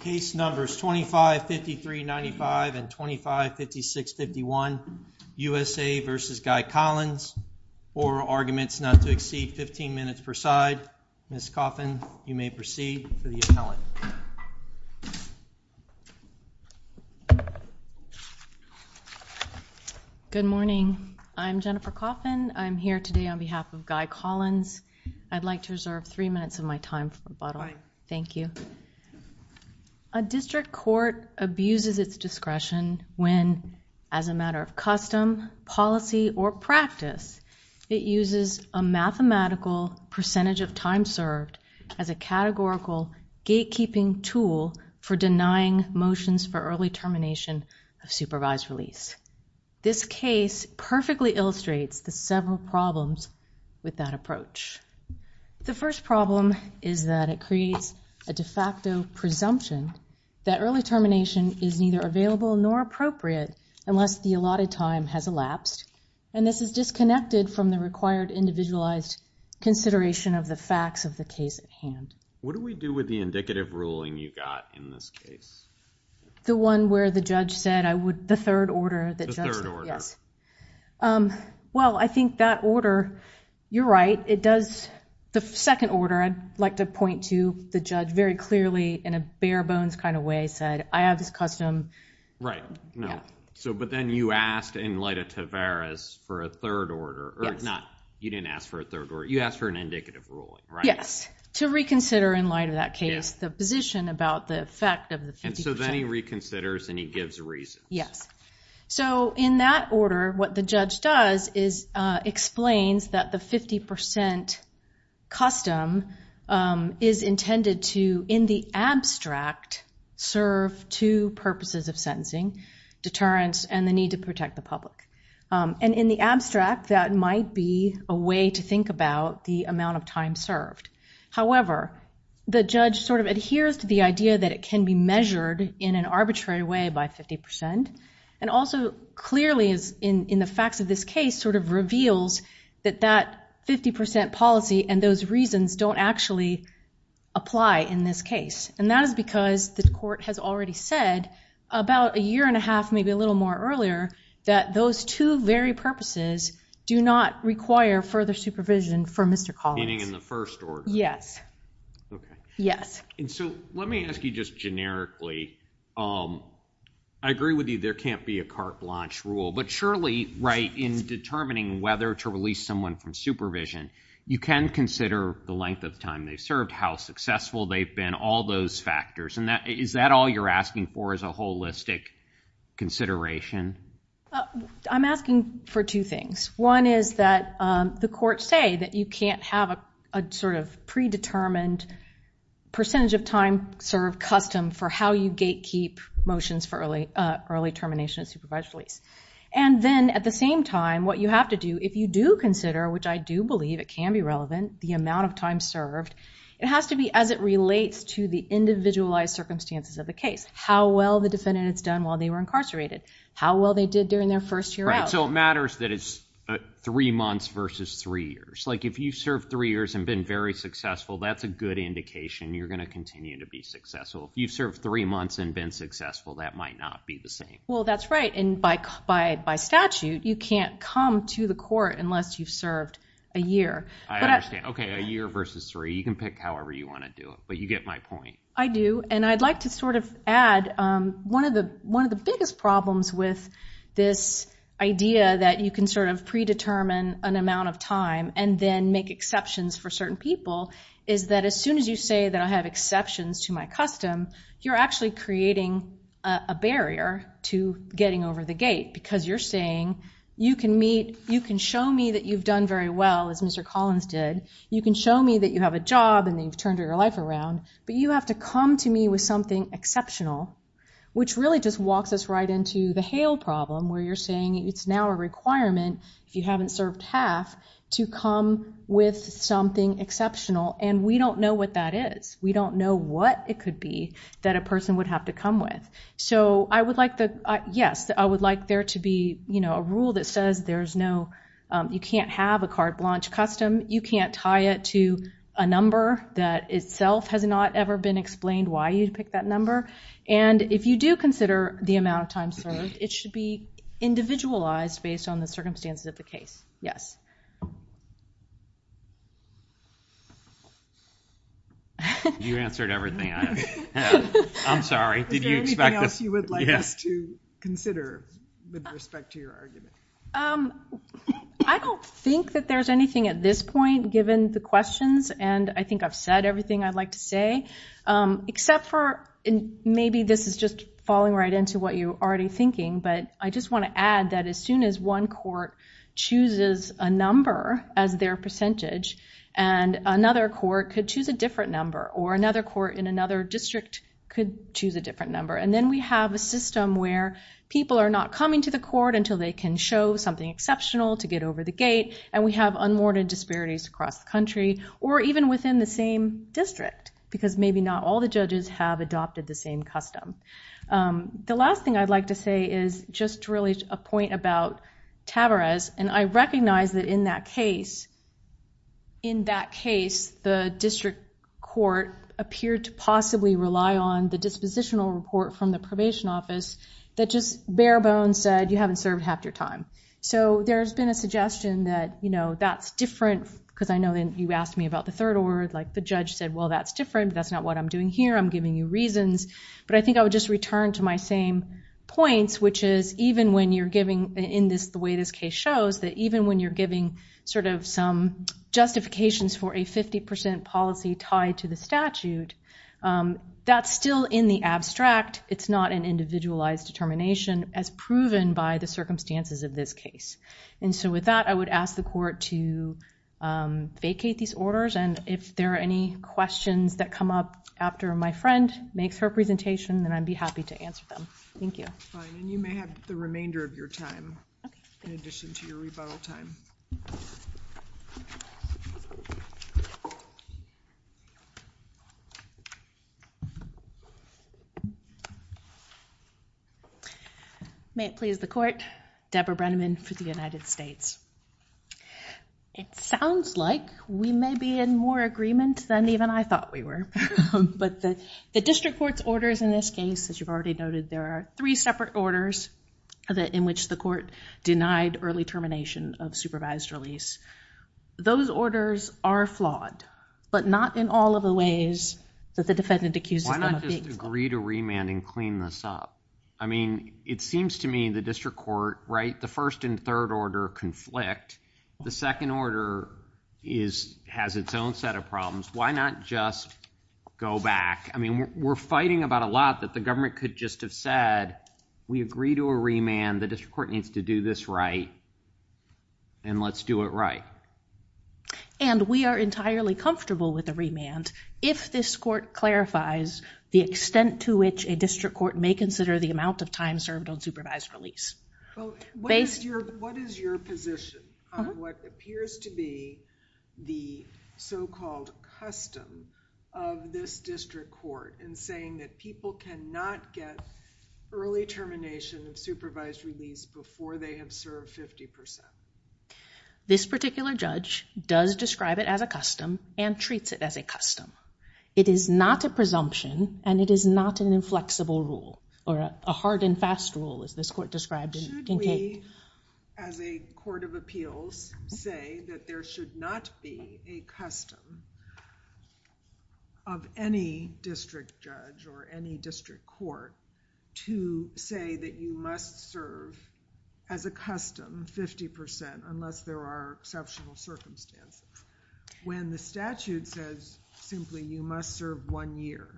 Case numbers 2553-95 and 2556-51, USA v. Guy Collins, oral arguments not to exceed 15 minutes per side. Ms. Coffin, you may proceed for the appellant. Good morning. I'm Jennifer Coffin. I'm here today on behalf of Guy Collins. I'd like to reserve three minutes of my time for rebuttal. Thank you. A district court abuses its discretion when, as a matter of custom, policy, or practice, it uses a mathematical percentage of time served as a categorical gatekeeping tool for denying motions for early termination of supervised release. This case perfectly illustrates the several problems with that approach. The first problem is that it creates a de facto presumption that early termination is neither available nor appropriate unless the allotted time has elapsed, and this is disconnected from the required individualized consideration of the facts of the case at hand. What do we do with the indicative ruling you got in this case? The one where the judge said, I would, the third order that judge said, yes. Well, I think that order, you're right, it does, the second order, I'd like to point to the judge very clearly in a bare bones kind of way said, I have this custom. Right, no. So, but then you asked in light of Tavares for a third order. Yes. Or not, you didn't ask for a third order, you asked for an indicative ruling, right? Yes, to reconsider in light of that case the position about the effect of the 50%. And so then he reconsiders and he gives reasons. Yes. So in that order, what the judge does is explains that the 50% custom is intended to, in the abstract, serve two purposes of sentencing, deterrence and the need to protect the public. And in the abstract, that might be a way to think about the amount of time served. However, the judge sort of adheres to the idea that it can be measured in an arbitrary way by 50%. And also, clearly, in the facts of this case, sort of reveals that that 50% policy and those reasons don't actually apply in this case. And that is because the court has already said about a year and a half, maybe a little more earlier, that those two very purposes do not require further supervision for Mr. Collins. Meaning in the first order? Yes. Okay. Yes. And so let me ask you just generically, I agree with you, there can't be a carte blanche rule. But surely, right, in determining whether to release someone from supervision, you can consider the length of time they've served, how successful they've been, all those factors. And is that all you're asking for is a holistic consideration? I'm asking for two things. One is that the courts say that you can't have a sort of predetermined percentage of time served custom for how you gatekeep motions for early termination of supervised release. And then at the same time, what you have to do, if you do consider, which I do believe it can be relevant, the amount of time served, it has to be as it relates to the individualized circumstances of the case. How well the defendant has done while they were incarcerated. How well they did during their first year out. So it matters that it's three months versus three years. Like if you've served three years and been very successful, that's a good indication you're going to continue to be successful. If you've served three months and been successful, that might not be the same. Well, that's right. And by statute, you can't come to the court unless you've served a year. I understand. Okay, a year versus three. You can pick however you want to do it. But you get my point. I do. And I'd like to sort of add, one of the biggest problems with this idea that you can sort of predetermine an amount of time and then make exceptions for certain people is that as soon as you say that I have exceptions to my custom, you're actually creating a barrier to getting over the gate. Because you're saying, you can show me that you've done very well, as Mr. Collins did. You can show me that you have a job and that you've turned your life around. But you have to come to me with something exceptional, which really just walks us right into the Hale problem, where you're saying it's now a requirement, if you haven't served half, to come with something exceptional. And we don't know what that is. We don't know what it could be that a person would have to come with. So, yes, I would like there to be a rule that says you can't have a carte blanche custom. You can't tie it to a number that itself has not ever been explained why you'd pick that number. And if you do consider the amount of time served, it should be individualized based on the circumstances of the case. Yes. You answered everything I asked. I'm sorry. Is there anything else you would like us to consider with respect to your argument? I don't think that there's anything at this point, given the questions. And I think I've said everything I'd like to say, except for maybe this is just falling right into what you're already thinking. But I just want to add that as soon as one court chooses a number as their percentage, and another court could choose a different number, or another court in another district could choose a different number, and then we have a system where people are not coming to the court until they can show something exceptional to get over the gate, and we have unwarranted disparities across the country, or even within the same district, because maybe not all the judges have adopted the same custom. The last thing I'd like to say is just really a point about Tavarez. And I recognize that in that case, the district court appeared to possibly rely on the dispositional report from the probation office that just bare bones said, you haven't served half your time. So there's been a suggestion that that's different, because I know you asked me about the third award. The judge said, well, that's different. That's not what I'm doing here. I'm giving you reasons. But I think I would just return to my same points, which is even when you're giving, in the way this case shows, that even when you're giving some justifications for a 50% policy tied to the statute, that's still in the abstract. It's not an individualized determination as proven by the circumstances of this case. And so with that, I would ask the court to vacate these orders. And if there are any questions that come up after my friend makes her presentation, then I'd be happy to answer them. Thank you. Fine. And you may have the remainder of your time in addition to your rebuttal time. May it please the court, Deborah Brenneman for the United States. It sounds like we may be in more agreement than even I thought we were. But the district court's orders in this case, as you've already noted, there are three separate orders in which the court denied early termination of supervised release. Those orders are flawed, but not in all of the ways that the defendant accuses them of being flawed. Why not just agree to remand and clean this up? I mean, it seems to me the district court, right, the first and third order conflict. The second order has its own set of problems. Why not just go back? I mean, we're fighting about a lot that the government could just have said, we agree to a remand. The district court needs to do this right. And let's do it right. And we are entirely comfortable with a remand. If this court clarifies the extent to which a district court may consider the amount of time served on supervised release. What is your position on what appears to be the so-called custom of this district court in saying that people cannot get early termination of supervised release before they have served 50%? This particular judge does describe it as a custom and treats it as a custom. It is not a presumption and it is not an inflexible rule or a hard and fast rule as this court described in Kate. I, as a court of appeals, say that there should not be a custom of any district judge or any district court to say that you must serve as a custom 50% unless there are exceptional circumstances. When the statute says simply you must serve one year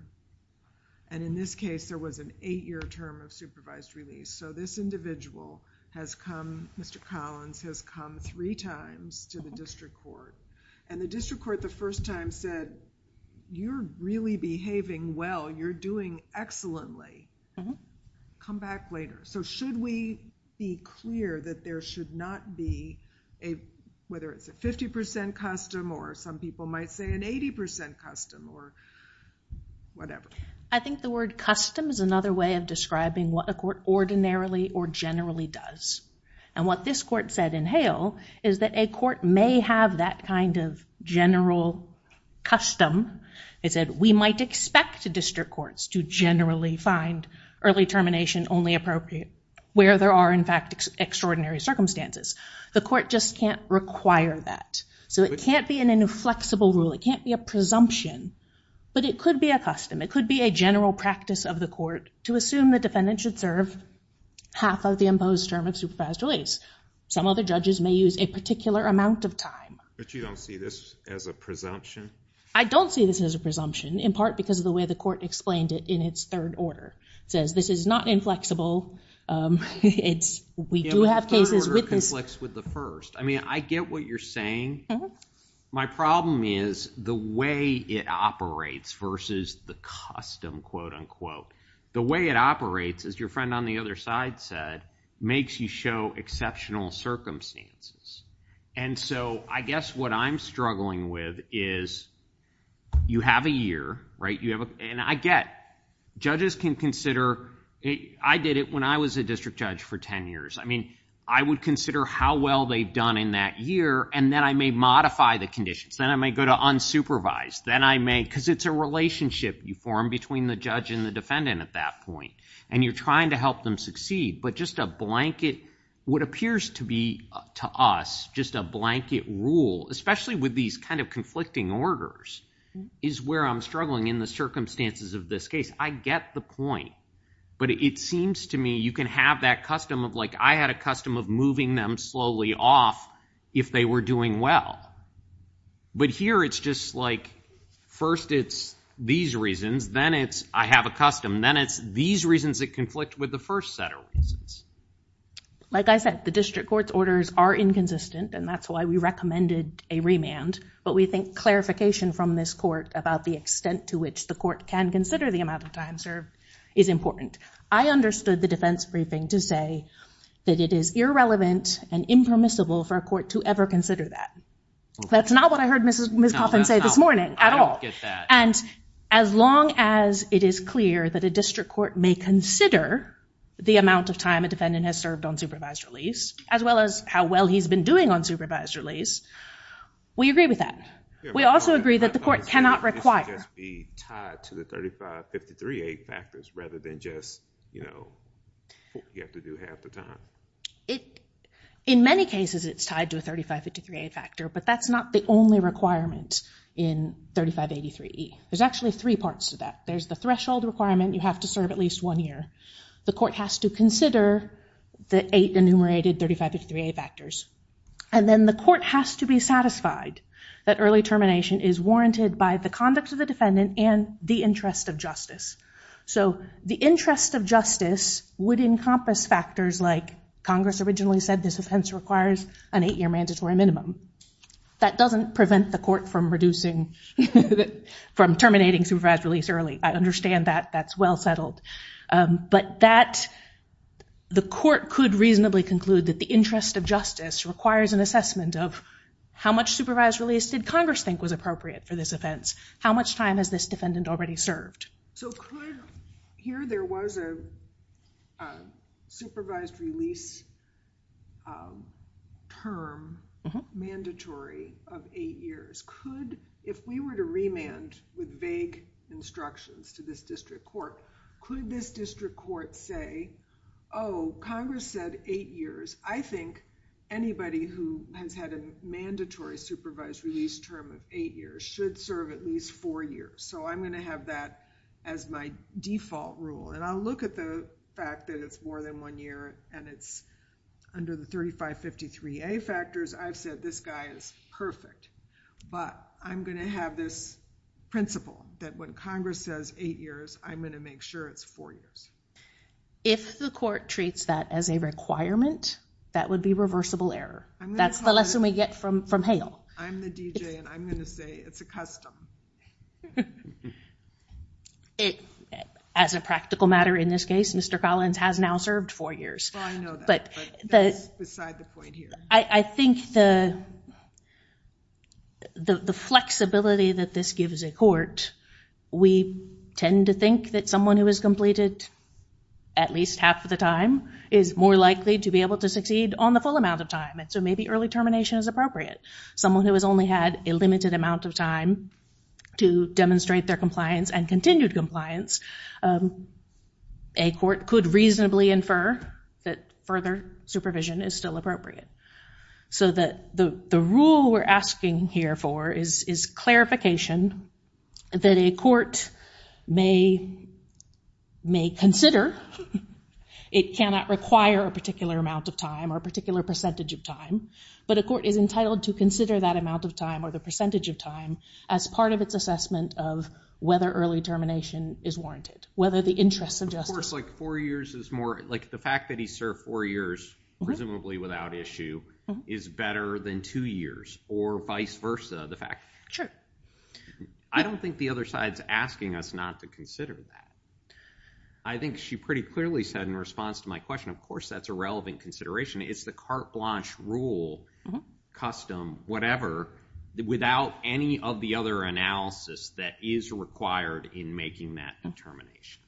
and in this case, there was an eight-year term of supervised release. So this individual has come, Mr. Collins, has come three times to the district court. And the district court the first time said, you're really behaving well. You're doing excellently. Come back later. So should we be clear that there should not be a, whether it's a 50% custom or some people might say an 80% custom or whatever. I think the word custom is another way of describing what a court ordinarily or generally does. And what this court said in Hale is that a court may have that kind of general custom. It said we might expect district courts to generally find early termination only appropriate where there are, in fact, extraordinary circumstances. The court just can't require that. So it can't be an inflexible rule. It can't be a presumption. But it could be a custom. It could be a general practice of the court to assume the defendant should serve half of the imposed term of supervised release. Some other judges may use a particular amount of time. But you don't see this as a presumption? I don't see this as a presumption, in part because of the way the court explained it in its third order. It says this is not inflexible. We do have cases with this. Yeah, but the third order conflicts with the first. I mean, I get what you're saying. My problem is the way it operates versus the custom, quote, unquote. The way it operates, as your friend on the other side said, makes you show exceptional circumstances. And so I guess what I'm struggling with is you have a year, right? And I get judges can consider. I did it when I was a district judge for 10 years. I mean, I would consider how well they've done in that year. And then I may modify the conditions. Then I may go to unsupervised. Then I may, because it's a relationship you form between the judge and the defendant at that point. And you're trying to help them succeed. But just a blanket, what appears to be to us just a blanket rule, especially with these kind of conflicting orders, is where I'm struggling in the circumstances of this case. I get the point. But it seems to me you can have that custom of, like, I had a custom of moving them slowly off if they were doing well. But here it's just, like, first it's these reasons. Then it's I have a custom. Then it's these reasons that conflict with the first set of reasons. Like I said, the district court's orders are inconsistent. And that's why we recommended a remand. But we think clarification from this court about the extent to which the court can consider the amount of time served is important. I understood the defense briefing to say that it is irrelevant and impermissible for a court to ever consider that. That's not what I heard Ms. Coffin say this morning at all. I don't get that. And as long as it is clear that a district court may consider the amount of time a defendant has served on supervised release, as well as how well he's been doing on supervised release, we agree with that. We also agree that the court cannot require. It should just be tied to the 3553A factors rather than just, you know, you have to do half the time. In many cases it's tied to a 3553A factor. But that's not the only requirement in 3583E. There's actually three parts to that. There's the threshold requirement. You have to serve at least one year. The court has to consider the eight enumerated 3553A factors. And then the court has to be satisfied that early termination is warranted by the conduct of the defendant and the interest of justice. So the interest of justice would encompass factors like Congress originally said this offense requires an eight-year mandatory minimum. That doesn't prevent the court from reducing, from terminating supervised release early. I understand that. That's well settled. But that, the court could reasonably conclude that the interest of justice requires an assessment of how much supervised release did Congress think was appropriate for this offense? How much time has this defendant already served? So could, here there was a supervised release term mandatory of eight years. Could, if we were to remand with vague instructions to this district court, could this district court say, oh, Congress said eight years. I think anybody who has had a mandatory supervised release term of eight years should serve at least four years. So I'm going to have that as my default rule. And I'll look at the fact that it's more than one year and it's under the 3553A factors. I've said this guy is perfect. But I'm going to have this principle that when Congress says eight years, I'm going to make sure it's four years. If the court treats that as a requirement, that would be reversible error. That's the lesson we get from Hale. I'm the DJ and I'm going to say it's a custom. As a practical matter in this case, Mr. Collins has now served four years. I know that, but that's beside the point here. I think the flexibility that this gives a court, we tend to think that someone who has completed at least half of the time is more likely to be able to succeed on the full amount of time. And so maybe early termination is appropriate. Someone who has only had a limited amount of time to demonstrate their compliance and continued compliance, a court could reasonably infer that further supervision is still appropriate. So the rule we're asking here for is clarification that a court may consider. It cannot require a particular amount of time or a particular percentage of time. But a court is entitled to consider that amount of time or the percentage of time as part of its assessment of whether early termination is warranted. The fact that he served four years, presumably without issue, is better than two years or vice versa. I don't think the other side is asking us not to consider that. I think she pretty clearly said in response to my question, of course, that's a relevant consideration. It's the carte blanche rule, custom, whatever, without any of the other analysis that is required in making that determination.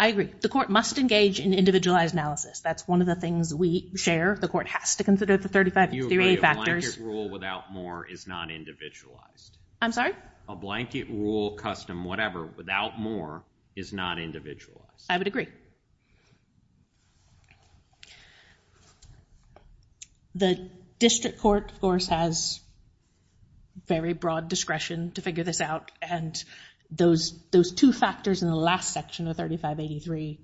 I agree. The court must engage in individualized analysis. That's one of the things we share. The court has to consider the 35 theory factors. A blanket rule without more is not individualized. I'm sorry? A blanket rule, custom, whatever, without more is not individualized. I would agree. The district court, of course, has very broad discretion to figure this out. And those two factors in the last section of 3583,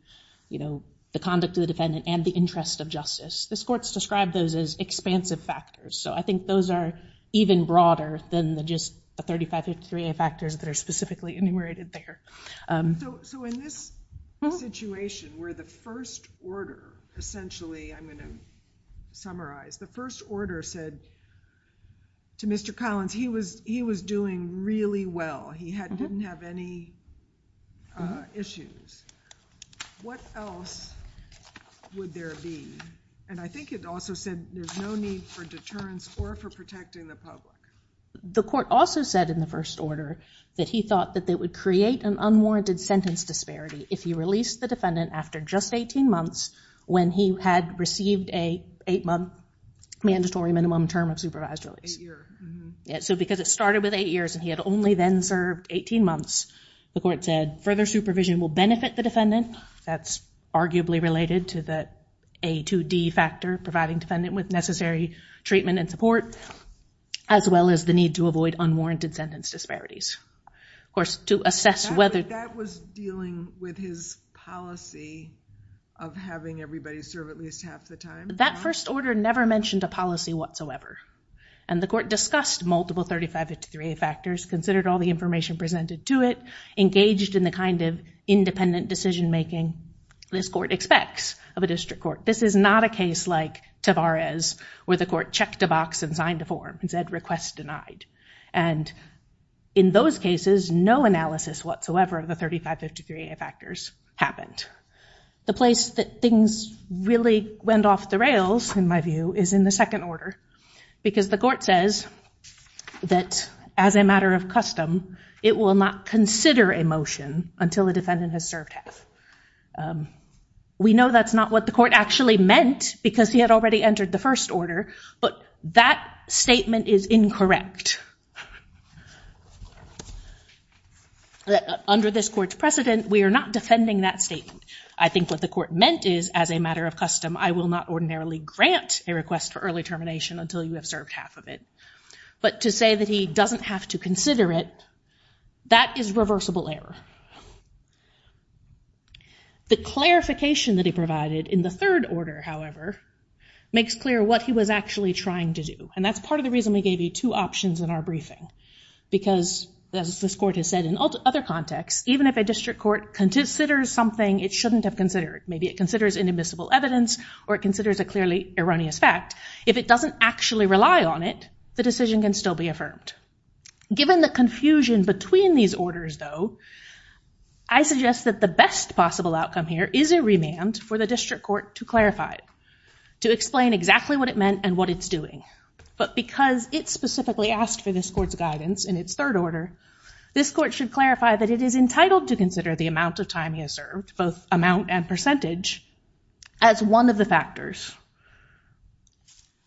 the conduct of the defendant and the interest of justice, this court's described those as expansive factors. So I think those are even broader than just the 3583 factors that are specifically enumerated there. So in this situation where the first order, essentially, I'm going to summarize, the first order said to Mr. Collins, he was doing really well. He didn't have any issues. What else would there be? And I think it also said there's no need for deterrence or for protecting the public. The court also said in the first order that he thought that it would create an unwarranted sentence disparity if he released the defendant after just 18 months when he had received an eight-month mandatory minimum term of supervised release. So because it started with eight years and he had only then served 18 months, the court said further supervision will benefit the defendant. That's arguably related to the A2D factor, providing defendant with necessary treatment and support, as well as the need to avoid unwarranted sentence disparities. Of course, to assess whether- That was dealing with his policy of having everybody serve at least half the time. That first order never mentioned a policy whatsoever. And the court discussed multiple 3553A factors, considered all the information presented to it, engaged in the kind of independent decision-making this court expects of a district court. This is not a case like Tavares, where the court checked a box and signed a form and said, request denied. And in those cases, no analysis whatsoever of the 3553A factors happened. The place that things really went off the rails, in my view, is in the second order, because the court says that, as a matter of custom, it will not consider a motion until the defendant has served half. We know that's not what the court actually meant, because he had already entered the first order, but that statement is incorrect. Under this court's precedent, we are not defending that statement. I think what the court meant is, as a matter of custom, I will not ordinarily grant a request for early termination until you have served half of it. But to say that he doesn't have to consider it, that is reversible error. The clarification that he provided in the third order, however, makes clear what he was actually trying to do. And that's part of the reason we gave you two options in our briefing. Because, as this court has said in other contexts, even if a district court considers something it shouldn't have considered, maybe it considers inadmissible evidence or it considers a clearly erroneous fact, if it doesn't actually rely on it, the decision can still be affirmed. Given the confusion between these orders, though, I suggest that the best possible outcome here is a remand for the district court to clarify, to explain exactly what it meant and what it's doing. But because it specifically asked for this court's guidance in its third order, this court should clarify that it is entitled to consider the amount of time he has served, both amount and percentage, as one of the factors.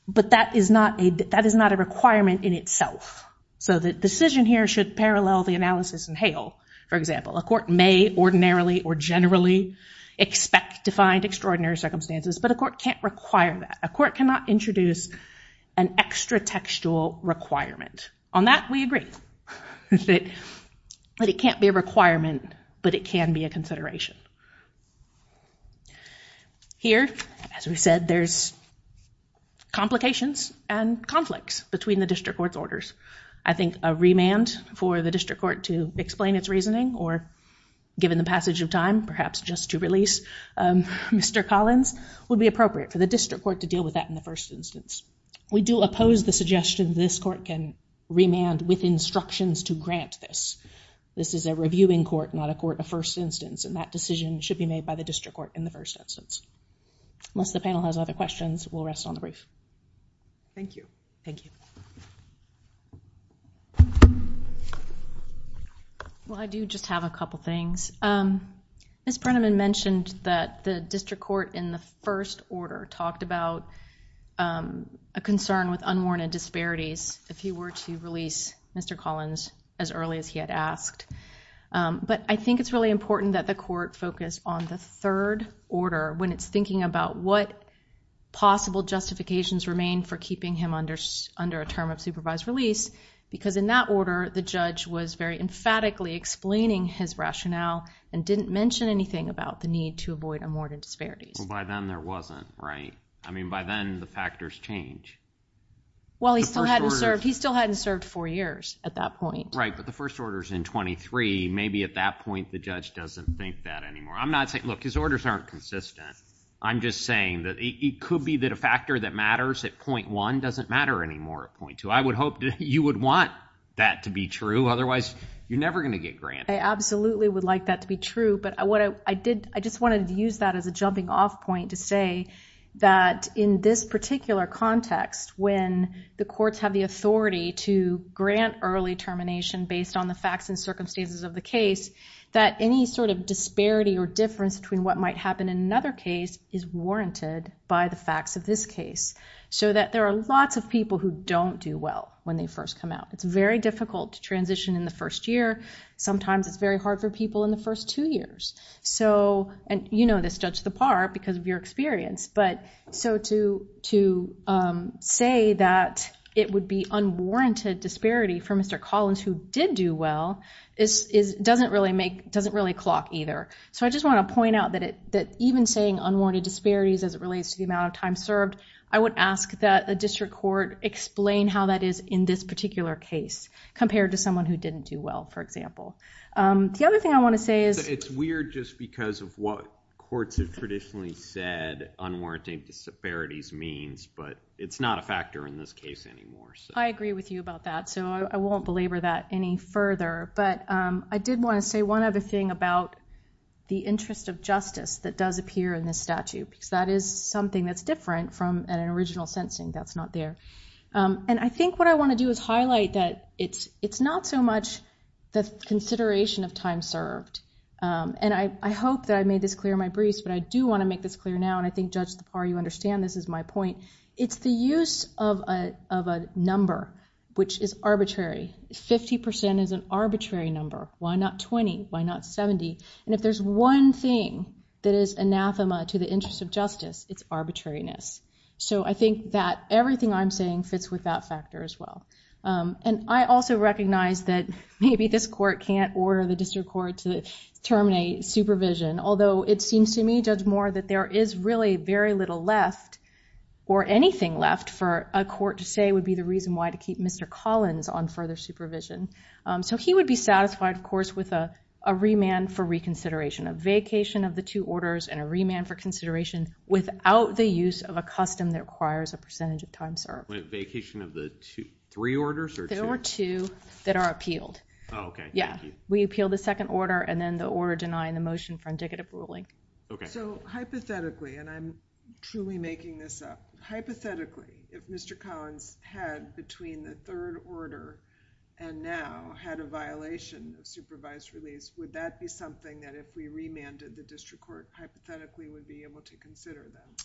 But that is not a requirement in itself. So the decision here should parallel the analysis in Hale, for example. A court may ordinarily or generally expect to find extraordinary circumstances, but a court can't require that. A court cannot introduce an extra-textual requirement. On that, we agree that it can't be a requirement, but it can be a consideration. Here, as we said, there's complications and conflicts between the district court's orders. I think a remand for the district court to explain its reasoning, or given the passage of time, perhaps just to release Mr. Collins, would be appropriate for the district court to deal with that in the first instance. We do oppose the suggestion this court can remand with instructions to grant this. This is a reviewing court, not a court of first instance, and that decision should be made by the district court in the first instance. Unless the panel has other questions, we'll rest on the brief. Thank you. Thank you. Well, I do just have a couple things. Ms. Printemann mentioned that the district court in the first order talked about a concern with unwarranted disparities if you were to release Mr. Collins as early as he had asked. But I think it's really important that the court focus on the third order when it's thinking about what possible justifications remain for keeping him under a term of supervised release, because in that order, the judge was very emphatically explaining his rationale and didn't mention anything about the need to avoid unwarranted disparities. Well, by then, there wasn't, right? I mean, by then, the factors change. Well, he still hadn't served four years at that point. Right, but the first order's in 23. Maybe at that point, the judge doesn't think that anymore. I'm not saying, look, his orders aren't consistent. I'm just saying that it could be that a factor that matters at 0.1 doesn't matter anymore at 0.2. I would hope that you would want that to be true. Otherwise, you're never going to get granted. I absolutely would like that to be true. But I just wanted to use that as a jumping-off point to say that in this particular context, when the courts have the authority to grant early termination based on the facts and circumstances of the case, that any sort of disparity or difference between what might happen in another case is warranted by the facts of this case so that there are lots of people who don't do well when they first come out. It's very difficult to transition in the first year. Sometimes it's very hard for people in the first two years. And you know this, Judge Thapar, because of your experience. But so to say that it would be unwarranted disparity for Mr. Collins who did do well doesn't really clock either. So I just want to point out that even saying unwarranted disparities as it relates to the amount of time served, I would ask that a district court explain how that is in this particular case compared to someone who didn't do well, for example. The other thing I want to say is- It's weird just because of what courts have traditionally said unwarranted disparities means. But it's not a factor in this case anymore. I agree with you about that. So I won't belabor that any further. But I did want to say one other thing about the interest of justice that does appear in this statute. Because that is something that's different from an original sentencing that's not there. And I think what I want to do is highlight that it's not so much the consideration of time served. And I hope that I made this clear in my briefs, but I do want to make this clear now. And I think, Judge Thapar, you understand this is my point. It's the use of a number which is arbitrary. 50% is an arbitrary number. Why not 20? Why not 70? And if there's one thing that is anathema to the interest of justice, it's arbitrariness. So I think that everything I'm saying fits with that factor as well. And I also recognize that maybe this court can't order the district court to terminate supervision. Although it seems to me, Judge Moore, that there is really very little left or anything left for a court to say would be the reason why to keep Mr. Collins on further supervision. So he would be satisfied, of course, with a remand for reconsideration, a vacation of the two orders, and a remand for consideration without the use of a custom that requires a percentage of time served. A vacation of the three orders or two? There are two that are appealed. Oh, okay. Thank you. Yeah. We appeal the second order and then the order denying the motion for indicative ruling. Okay. So hypothetically, and I'm truly making this up, hypothetically, if Mr. Collins had between the third order and now had a violation of supervised release, would that be something that if we remanded the district court hypothetically would be able to consider then?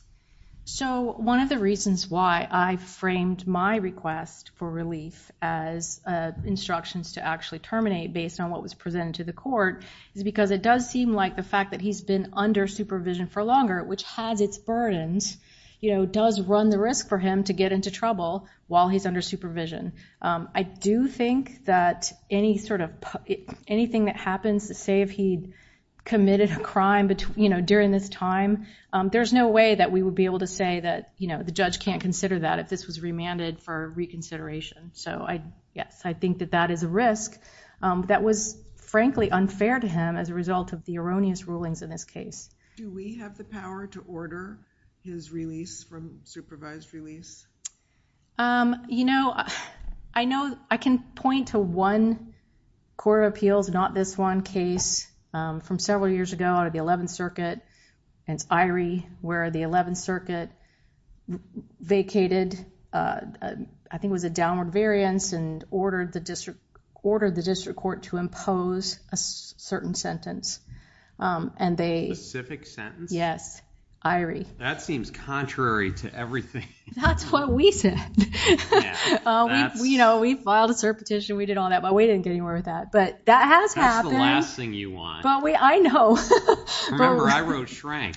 So one of the reasons why I framed my request for relief as instructions to actually terminate based on what was presented to the court is because it does seem like the fact that he's been under supervision for longer, which has its burdens, you know, does run the risk for him to get into trouble while he's under supervision. I do think that anything that happens, say if he committed a crime during this time, there's no way that we would be able to say that the judge can't consider that if this was remanded for reconsideration. So, yes, I think that that is a risk. That was, frankly, unfair to him as a result of the erroneous rulings in this case. Do we have the power to order his release from supervised release? You know, I know I can point to one court of appeals, not this one case from several years ago out of the 11th Circuit, and it's Irie where the 11th Circuit vacated, I think it was a downward variance, and ordered the district court to impose a certain sentence. A specific sentence? Yes, Irie. That seems contrary to everything. That's what we said. You know, we filed a cert petition, we did all that, but we didn't get anywhere with that. But that has happened. That's the last thing you want. I know. Remember, I wrote shrank.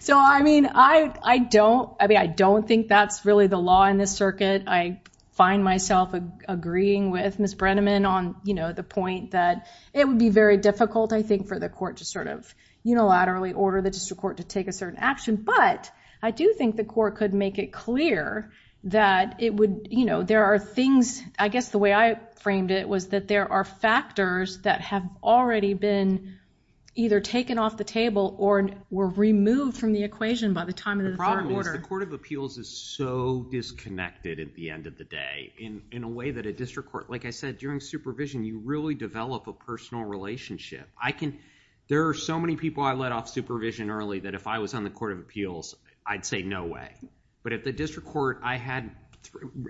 So, I mean, I don't think that's really the law in this circuit. I find myself agreeing with Ms. Brenneman on, you know, the point that it would be very difficult, I think, for the court to sort of unilaterally order the district court to take a certain action. But I do think the court could make it clear that it would, you know, there are things, I guess the way I framed it was that there are factors that have already been either taken off the table or were removed from the equation by the time of the third order. The problem is the court of appeals is so disconnected at the end of the day, in a way that a district court, like I said, during supervision, you really develop a personal relationship. There are so many people I let off supervision early that if I was on the court of appeals, I'd say no way. But at the district court, I had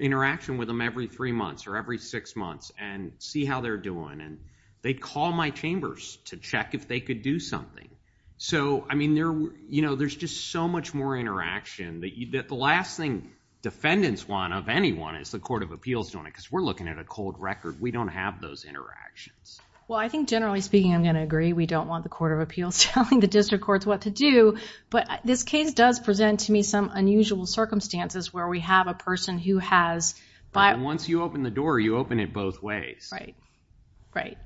interaction with them every three months or every six months and see how they're doing. And they'd call my chambers to check if they could do something. So, I mean, you know, there's just so much more interaction. The last thing defendants want of anyone is the court of appeals doing it because we're looking at a cold record. We don't have those interactions. Well, I think generally speaking, I'm going to agree. We don't want the court of appeals telling the district courts what to do. But this case does present to me some unusual circumstances where we have a person who has... And once you open the door, you open it both ways. Right, right.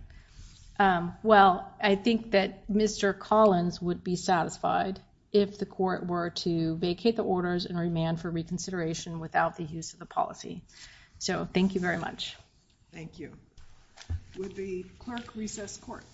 Well, I think that Mr. Collins would be satisfied if the court were to vacate the orders and remand for reconsideration without the use of the policy. So, thank you very much. Thank you. With the clerk, recess court.